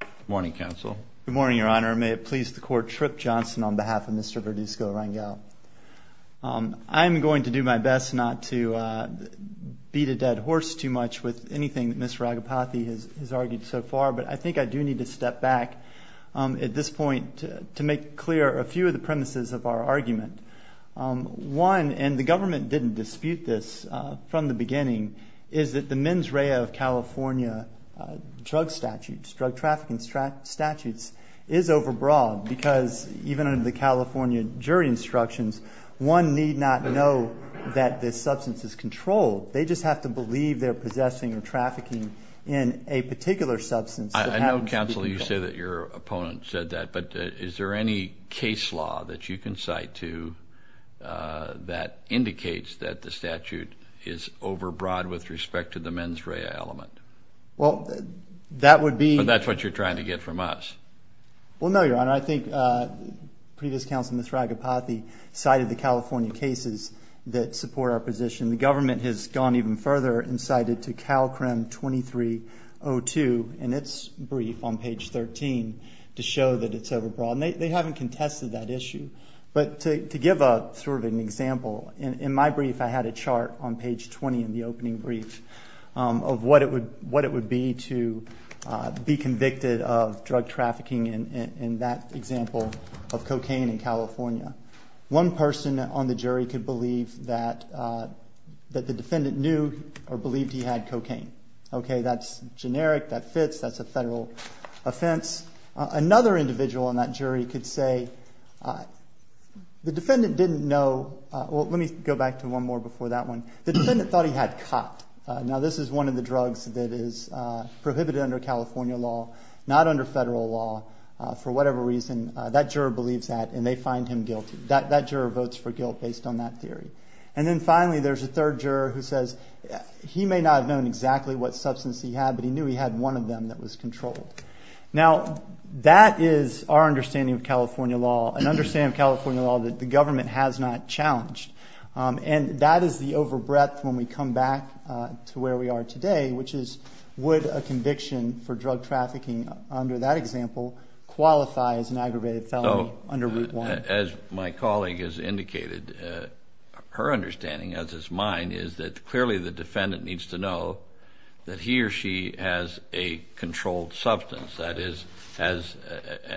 Good morning, Your Honor. May it please the Court, Tripp Johnson on behalf of Mr. Verduzco-Rangel. I'm going to do my best not to beat a dead horse too much with anything that Mr. Agapathy has argued so far, but I think I do need to step back at this point to make clear a few of the premises of our argument. One, and the government didn't dispute this from the beginning, is that the mens rea of California drug statutes, drug trafficking statutes, is overbroad because even under the California jury instructions, one need not know that this substance is controlled. They just have to believe they're possessing or trafficking in a particular substance. I know, Counsel, you say that your opponent said that, but is there any case law that you can cite to that indicates that the statute is overbroad with respect to the mens rea element? Well, that would be... So that's what you're trying to get from us. Well, no, Your Honor. I think previous counsel, Mr. Agapathy, cited the California cases that support our position. The government has gone even further and cited to CalCRM 2302 in its brief on page 13 to show that it's overbroad, and they haven't contested that issue. But to give sort of an example, in my brief I had a chart on page 20 in the opening brief of what it would be to be convicted of drug trafficking in that example of cocaine in California. One person on the jury could believe that the defendant knew or believed he had cocaine. Okay, that's generic, that fits, that's a federal offense. Another individual on that jury could say the defendant didn't know... Well, let me go back to one more before that one. The defendant thought he had copped. Now, this is one of the drugs that is prohibited under California law, not under federal law. For whatever reason, that juror believes that, and they find him guilty. That juror votes for guilt based on that theory. And then finally, there's a third juror who says he may not have known exactly what substance he had, but he knew he had one of them that was controlled. Now, that is our understanding of California law, an understanding of California law that the government has not challenged. And that is the overbreadth when we come back to where we are today, which is would a conviction for drug trafficking under that example qualify as an aggravated felony under Route 1? As my colleague has indicated, her understanding, as is mine, is that clearly the defendant needs to know that he or she has a controlled substance, that is, has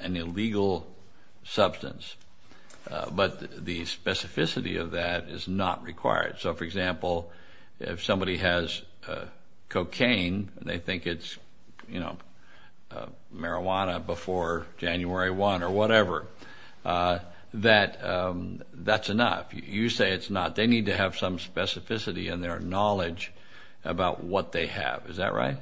an illegal substance. But the specificity of that is not required. So, for example, if somebody has cocaine and they think it's, you know, marijuana before January 1 or whatever, that's enough. You say it's not. They need to have some specificity in their knowledge about what they have. Is that right?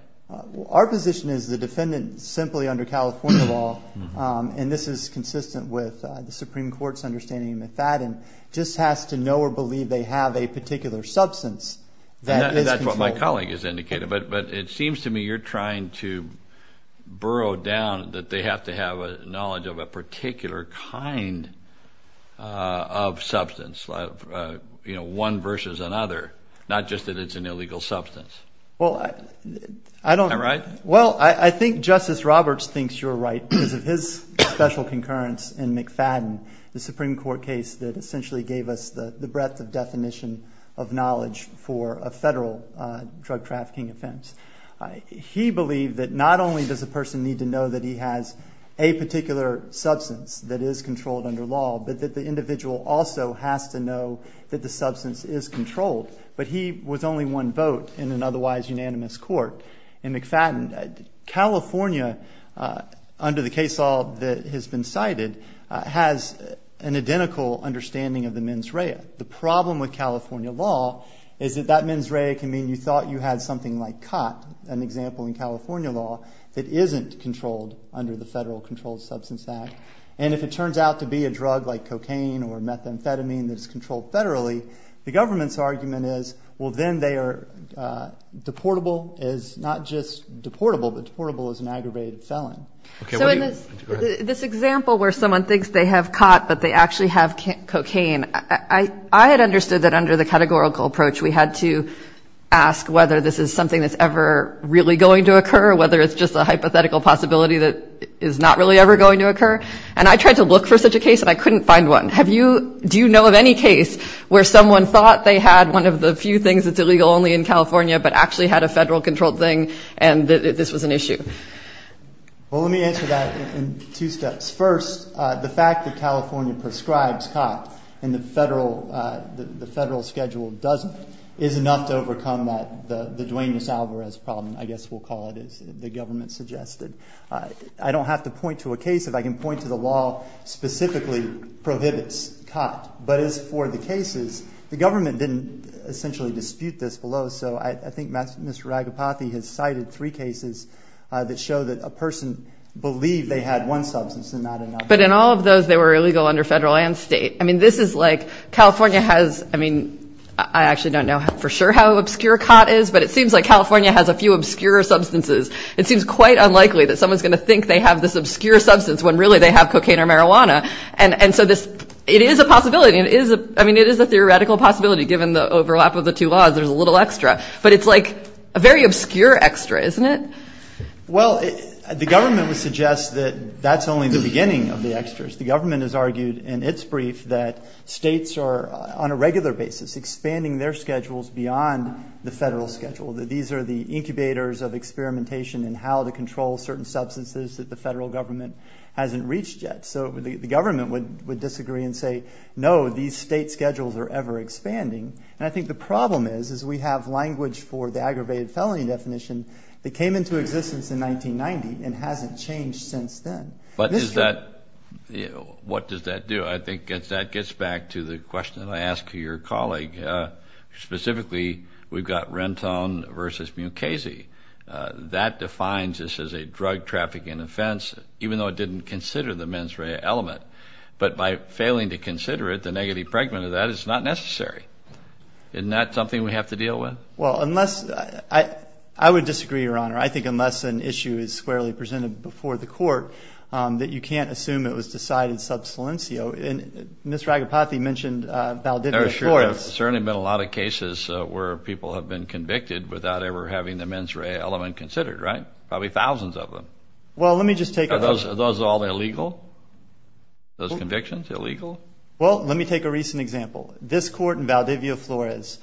Our position is the defendant, simply under California law, and this is consistent with the Supreme Court's understanding of Mifaden, just has to know or believe they have a particular substance that is controlled. And that's what my colleague has indicated. But it seems to me you're trying to burrow down that they have to have a knowledge of a particular kind of substance, you know, one versus another, not just that it's an illegal substance. Well, I don't… Am I right? Well, I think Justice Roberts thinks you're right because of his special concurrence in Mifaden, the Supreme Court case that essentially gave us the breadth of definition of knowledge for a federal drug trafficking offense. He believed that not only does a person need to know that he has a particular substance that is controlled under law, but that the individual also has to know that the substance is controlled. But he was only one vote in an otherwise unanimous court in Mifaden. California, under the case law that has been cited, has an identical understanding of the mens rea. The problem with California law is that that mens rea can mean you thought you had something like cot, an example in California law, that isn't controlled under the Federal Controlled Substance Act. And if it turns out to be a drug like cocaine or methamphetamine that's controlled federally, the government's argument is, well, then they are deportable as not just deportable, but deportable as an aggravated felon. So in this example where someone thinks they have cot, but they actually have cocaine, I had understood that under the categorical approach, we had to ask whether this is something that's ever really going to occur, or whether it's just a hypothetical possibility that is not really ever going to occur. And I tried to look for such a case, and I couldn't find one. Do you know of any case where someone thought they had one of the few things that's illegal only in California, but actually had a federal controlled thing, and this was an issue? Well, let me answer that in two steps. First, the fact that California prescribes cot, and the federal schedule doesn't, is enough to overcome the Duane Nassauverez problem, I guess we'll call it, as the government suggested. I don't have to point to a case. If I can point to the law specifically prohibits cot, but as for the cases, the government didn't essentially dispute this below. So I think Mr. Ragopathy has cited three cases that show that a person believed they had one substance and not another. But in all of those, they were illegal under federal and state. I mean, this is like California has, I mean, I actually don't know for sure how obscure cot is, but it seems like California has a few obscure substances. It seems quite unlikely that someone's going to think they have this obscure substance when really they have cocaine or marijuana. And so it is a possibility. I mean, it is a theoretical possibility given the overlap of the two laws. There's a little extra. But it's like a very obscure extra, isn't it? Well, the government would suggest that that's only the beginning of the extras. The government has argued in its brief that states are on a regular basis expanding their schedules beyond the federal schedule, that these are the incubators of experimentation and how to control certain substances that the federal government hasn't reached yet. So the government would disagree and say, no, these state schedules are ever expanding. And I think the problem is, is we have language for the aggravated felony definition that came into existence in 1990 and hasn't changed since then. But what does that do? I think that gets back to the question that I asked your colleague. Specifically, we've got Renton v. Mukasey. That defines this as a drug trafficking offense, even though it didn't consider the mens rea element. But by failing to consider it, the negative pregnant of that is not necessary. Isn't that something we have to deal with? Well, I would disagree, Your Honor. I think unless an issue is squarely presented before the court that you can't assume it was decided sub saliencio. And Ms. Ragapathy mentioned Valdivia Court. There have certainly been a lot of cases where people have been convicted without ever having the mens rea element considered, right? Probably thousands of them. Are those all illegal? Those convictions illegal? Well, let me take a recent example. This court in Valdivia Flores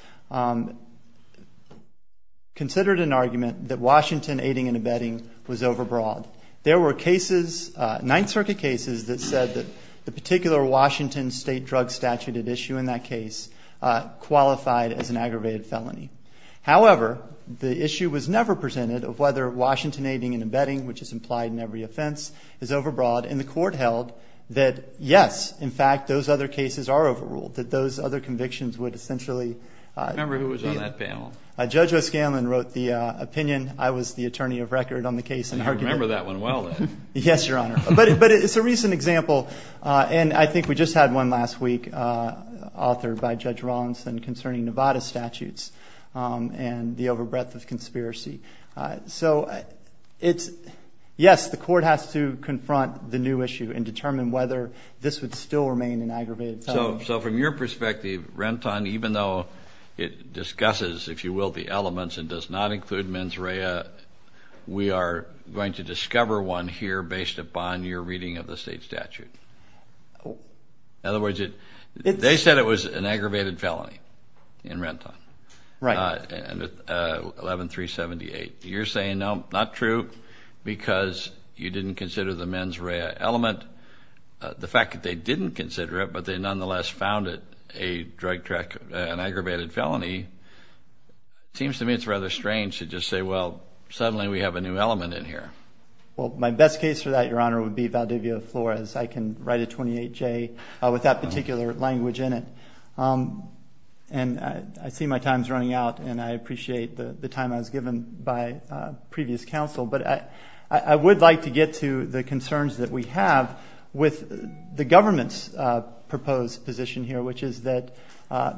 considered an argument that Washington aiding and abetting was overbroad. There were cases, Ninth Circuit cases, that said that the particular Washington state drug statute at issue in that case qualified as an aggravated felony. However, the issue was never presented of whether Washington aiding and abetting, which is implied in every offense, is overbroad. And the court held that, yes, in fact, those other cases are overruled, that those other convictions would essentially. I remember who was on that panel. Judge O'Scanlan wrote the opinion. I was the attorney of record on the case. I remember that one well, then. Yes, Your Honor. But it's a recent example, and I think we just had one last week authored by Judge Rawlinson concerning Nevada statutes and the overbreadth of conspiracy. So it's, yes, the court has to confront the new issue and determine whether this would still remain an aggravated felony. So from your perspective, Renton, even though it discusses, if you will, the elements and does not include mens rea, we are going to discover one here based upon your reading of the state statute. In other words, they said it was an aggravated felony in Renton. Right. 11-378. You're saying, no, not true because you didn't consider the mens rea element. The fact that they didn't consider it, but they nonetheless found it an aggravated felony, it seems to me it's rather strange to just say, well, suddenly we have a new element in here. Well, my best case for that, Your Honor, would be Valdivia Flores. I can write a 28-J with that particular language in it. And I see my time is running out, and I appreciate the time I was given by previous counsel. But I would like to get to the concerns that we have with the government's proposed position here, which is that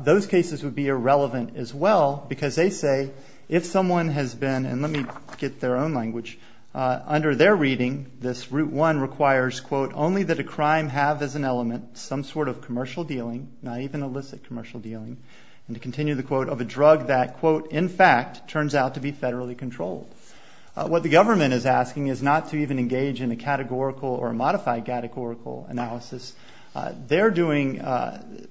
those cases would be irrelevant as well because they say if someone has been, and let me get their own language, under their reading, this Route 1 requires, quote, only that a crime have as an element some sort of commercial dealing, not even illicit commercial dealing, and to continue the quote, of a drug that, quote, in fact, turns out to be federally controlled. What the government is asking is not to even engage in a categorical or a modified categorical analysis. They're doing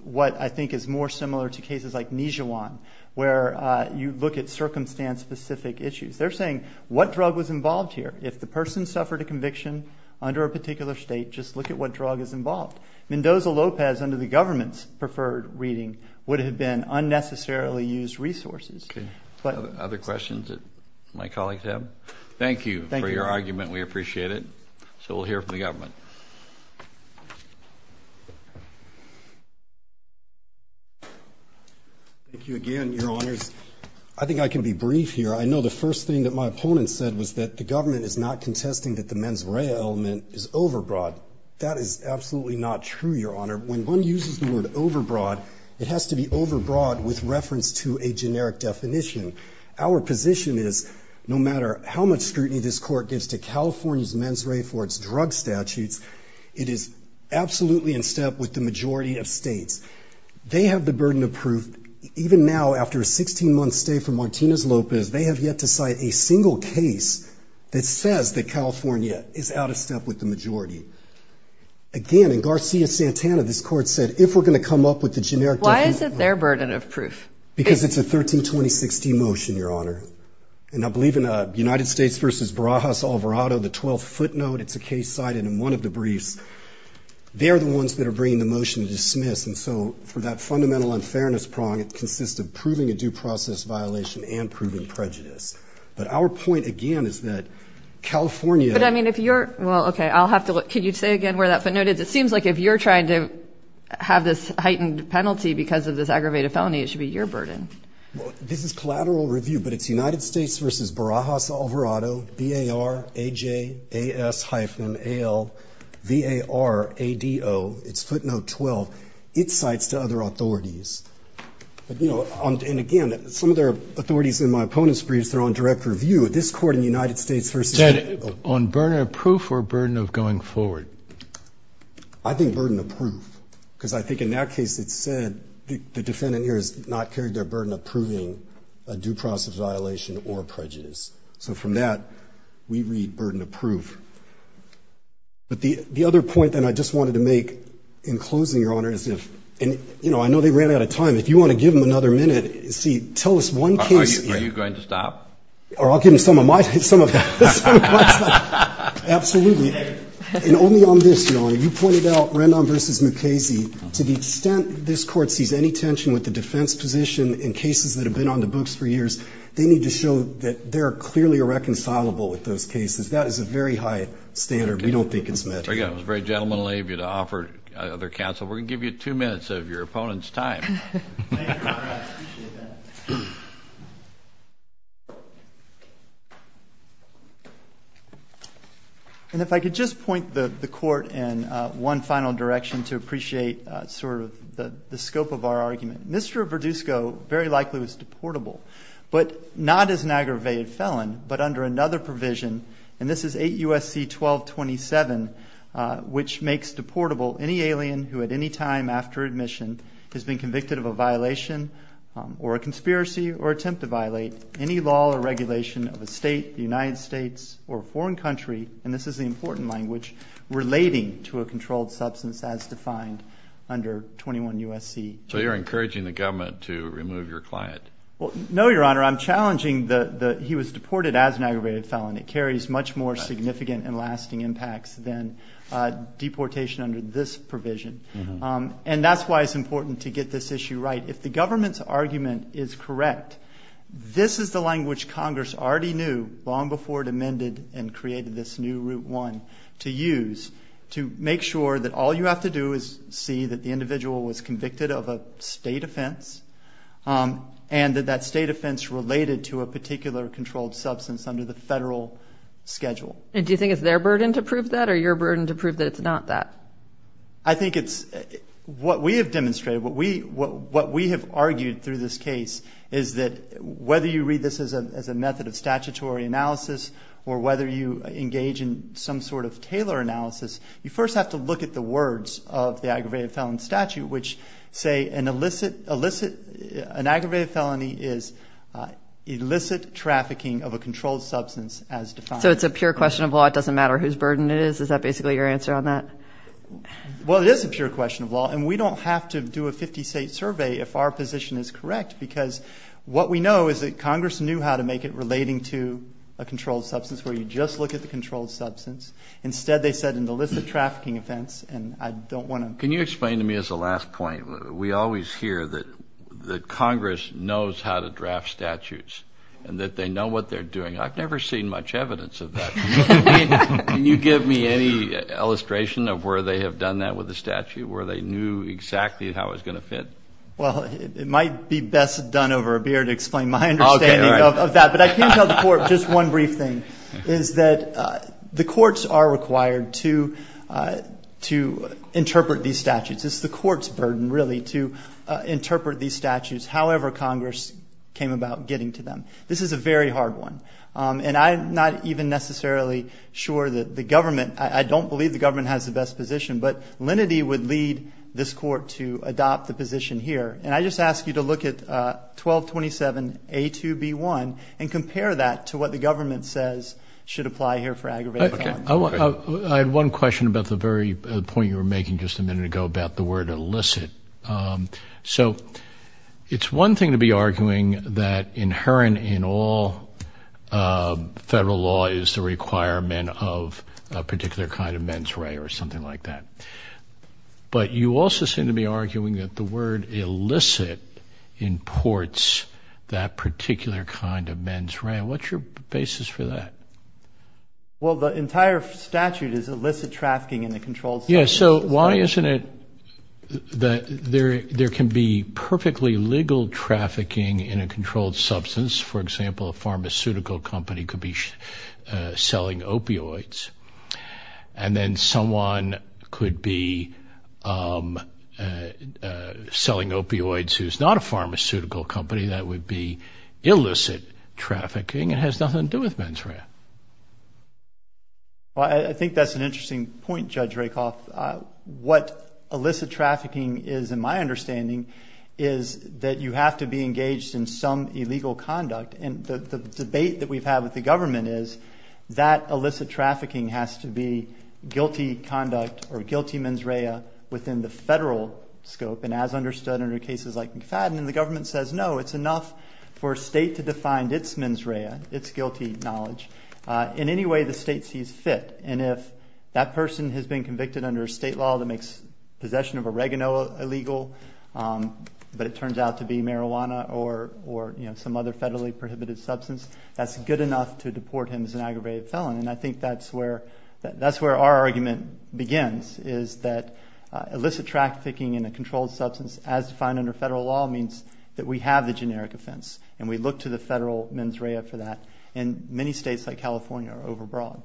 what I think is more similar to cases like Nijuan, where you look at circumstance-specific issues. They're saying what drug was involved here. If the person suffered a conviction under a particular state, just look at what drug is involved. Mendoza-Lopez, under the government's preferred reading, would have been unnecessarily used resources. Okay. Other questions that my colleagues have? Thank you for your argument. Thank you, Your Honor. We appreciate it. So we'll hear from the government. Thank you again, Your Honors. I think I can be brief here. I know the first thing that my opponent said was that the government is not contesting that the mens rea element is overbroad. That is absolutely not true, Your Honor. When one uses the word overbroad, it has to be overbroad with reference to a generic definition. Our position is no matter how much scrutiny this Court gives to California's mens rea for its drug statutes, it is absolutely in step with the majority of states. They have the burden of proof. Even now, after a 16-month stay for Martinez-Lopez, they have yet to cite a single case that says that California is out of step with the majority. Again, in Garcia-Santana, this Court said, if we're going to come up with the generic definition. Why is it their burden of proof? Because it's a 132060 motion, Your Honor. And I believe in United States v. Barajas-Alvarado, the 12-foot note, it's a case cited in one of the briefs. They're the ones that are bringing the motion to dismiss. And so for that fundamental unfairness prong, it consists of proving a due process violation and proving prejudice. But our point, again, is that California. Can you say again where that footnote is? It seems like if you're trying to have this heightened penalty because of this aggravated felony, it should be your burden. This is collateral review, but it's United States v. Barajas-Alvarado, B-A-R-A-J-A-S-hyphen-A-L-V-A-R-A-D-O. It's footnote 12. It cites to other authorities. And again, some of their authorities in my opponents' briefs, they're on direct review. This court in the United States v. On burden of proof or burden of going forward? I think burden of proof because I think in that case it said the defendant here has not carried their burden of proving a due process violation or prejudice. So from that, we read burden of proof. But the other point that I just wanted to make in closing, Your Honor, is if, you know, I know they ran out of time. If you want to give them another minute, see, tell us one case. Are you going to stop? Or I'll give them some of my stuff. Absolutely. And only on this, Your Honor, you pointed out Rendon v. Mukasey. To the extent this court sees any tension with the defense position in cases that have been on the books for years, they need to show that they're clearly irreconcilable with those cases. That is a very high standard. We don't think it's met. Again, it was very gentlemanly of you to offer other counsel. We're going to give you two minutes of your opponent's time. Thank you, Your Honor. I appreciate that. And if I could just point the court in one final direction to appreciate sort of the scope of our argument. Mr. Verdusco very likely was deportable, but not as an aggravated felon, but under another provision, and this is 8 U.S.C. 1227, which makes deportable any alien who at any time after admission has been convicted of a violation or a conspiracy or attempt to violate any law or regulation of a state, the United States, or a foreign country, and this is the important language, relating to a controlled substance as defined under 21 U.S.C. So you're encouraging the government to remove your client? No, Your Honor. I'm challenging that he was deported as an aggravated felon. It carries much more significant and lasting impacts than deportation under this provision, and that's why it's important to get this issue right. If the government's argument is correct, this is the language Congress already knew long before it amended and created this new Route 1 to use to make sure that all you have to do is see that the individual was convicted of a state offense and that that state offense related to a particular controlled substance under the federal schedule. And do you think it's their burden to prove that or your burden to prove that it's not that? I think it's what we have demonstrated, what we have argued through this case, is that whether you read this as a method of statutory analysis or whether you engage in some sort of tailor analysis, you first have to look at the words of the aggravated felon statute, which say an aggravated felony is illicit trafficking of a controlled substance as defined. So it's a pure question of law. It doesn't matter whose burden it is. Is that basically your answer on that? Well, it is a pure question of law, and we don't have to do a 50-state survey if our position is correct, because what we know is that Congress knew how to make it relating to a controlled substance, where you just look at the controlled substance. Instead, they said an illicit trafficking offense, and I don't want to. Can you explain to me as a last point, we always hear that Congress knows how to draft statutes and that they know what they're doing. I've never seen much evidence of that. Can you give me any illustration of where they have done that with the statute, where they knew exactly how it was going to fit? Well, it might be best done over a beer to explain my understanding of that. But I can tell the court just one brief thing, is that the courts are required to interpret these statutes. It's the court's burden, really, to interpret these statutes, however Congress came about getting to them. This is a very hard one, and I'm not even necessarily sure that the government, I don't believe the government has the best position, but lenity would lead this court to adopt the position here. And I just ask you to look at 1227A2B1 and compare that to what the government says should apply here for aggravated crime. I had one question about the very point you were making just a minute ago about the word illicit. So it's one thing to be arguing that inherent in all federal law is the requirement of a particular kind of mens rea or something like that. But you also seem to be arguing that the word illicit imports that particular kind of mens rea. What's your basis for that? Well, the entire statute is illicit trafficking in a controlled substance. Yeah, so why isn't it that there can be perfectly legal trafficking in a controlled substance. For example, a pharmaceutical company could be selling opioids, and then someone could be selling opioids who's not a pharmaceutical company. That would be illicit trafficking. It has nothing to do with mens rea. Well, I think that's an interesting point, Judge Rakoff. What illicit trafficking is in my understanding is that you have to be engaged in some illegal conduct. And the debate that we've had with the government is that illicit trafficking has to be guilty conduct or guilty mens rea within the federal scope and as understood under cases like McFadden. And the government says, no, it's enough for a state to define its mens rea, its guilty knowledge, in any way the state sees fit. And if that person has been convicted under a state law that makes possession of oregano illegal, but it turns out to be marijuana or some other federally prohibited substance, that's good enough to deport him as an aggravated felon. And I think that's where our argument begins is that illicit trafficking in a controlled substance, as defined under federal law, means that we have the generic offense. And we look to the federal mens rea for that. And many states like California are overbroad.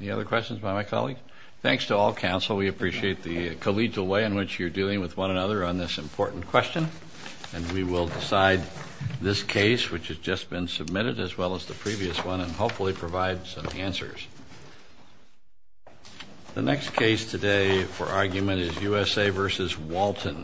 Any other questions by my colleague? Thanks to all counsel. We appreciate the collegial way in which you're dealing with one another on this important question. And we will decide this case, which has just been submitted, as well as the previous one, and hopefully provide some answers. The next case today for argument is USA v. Walton.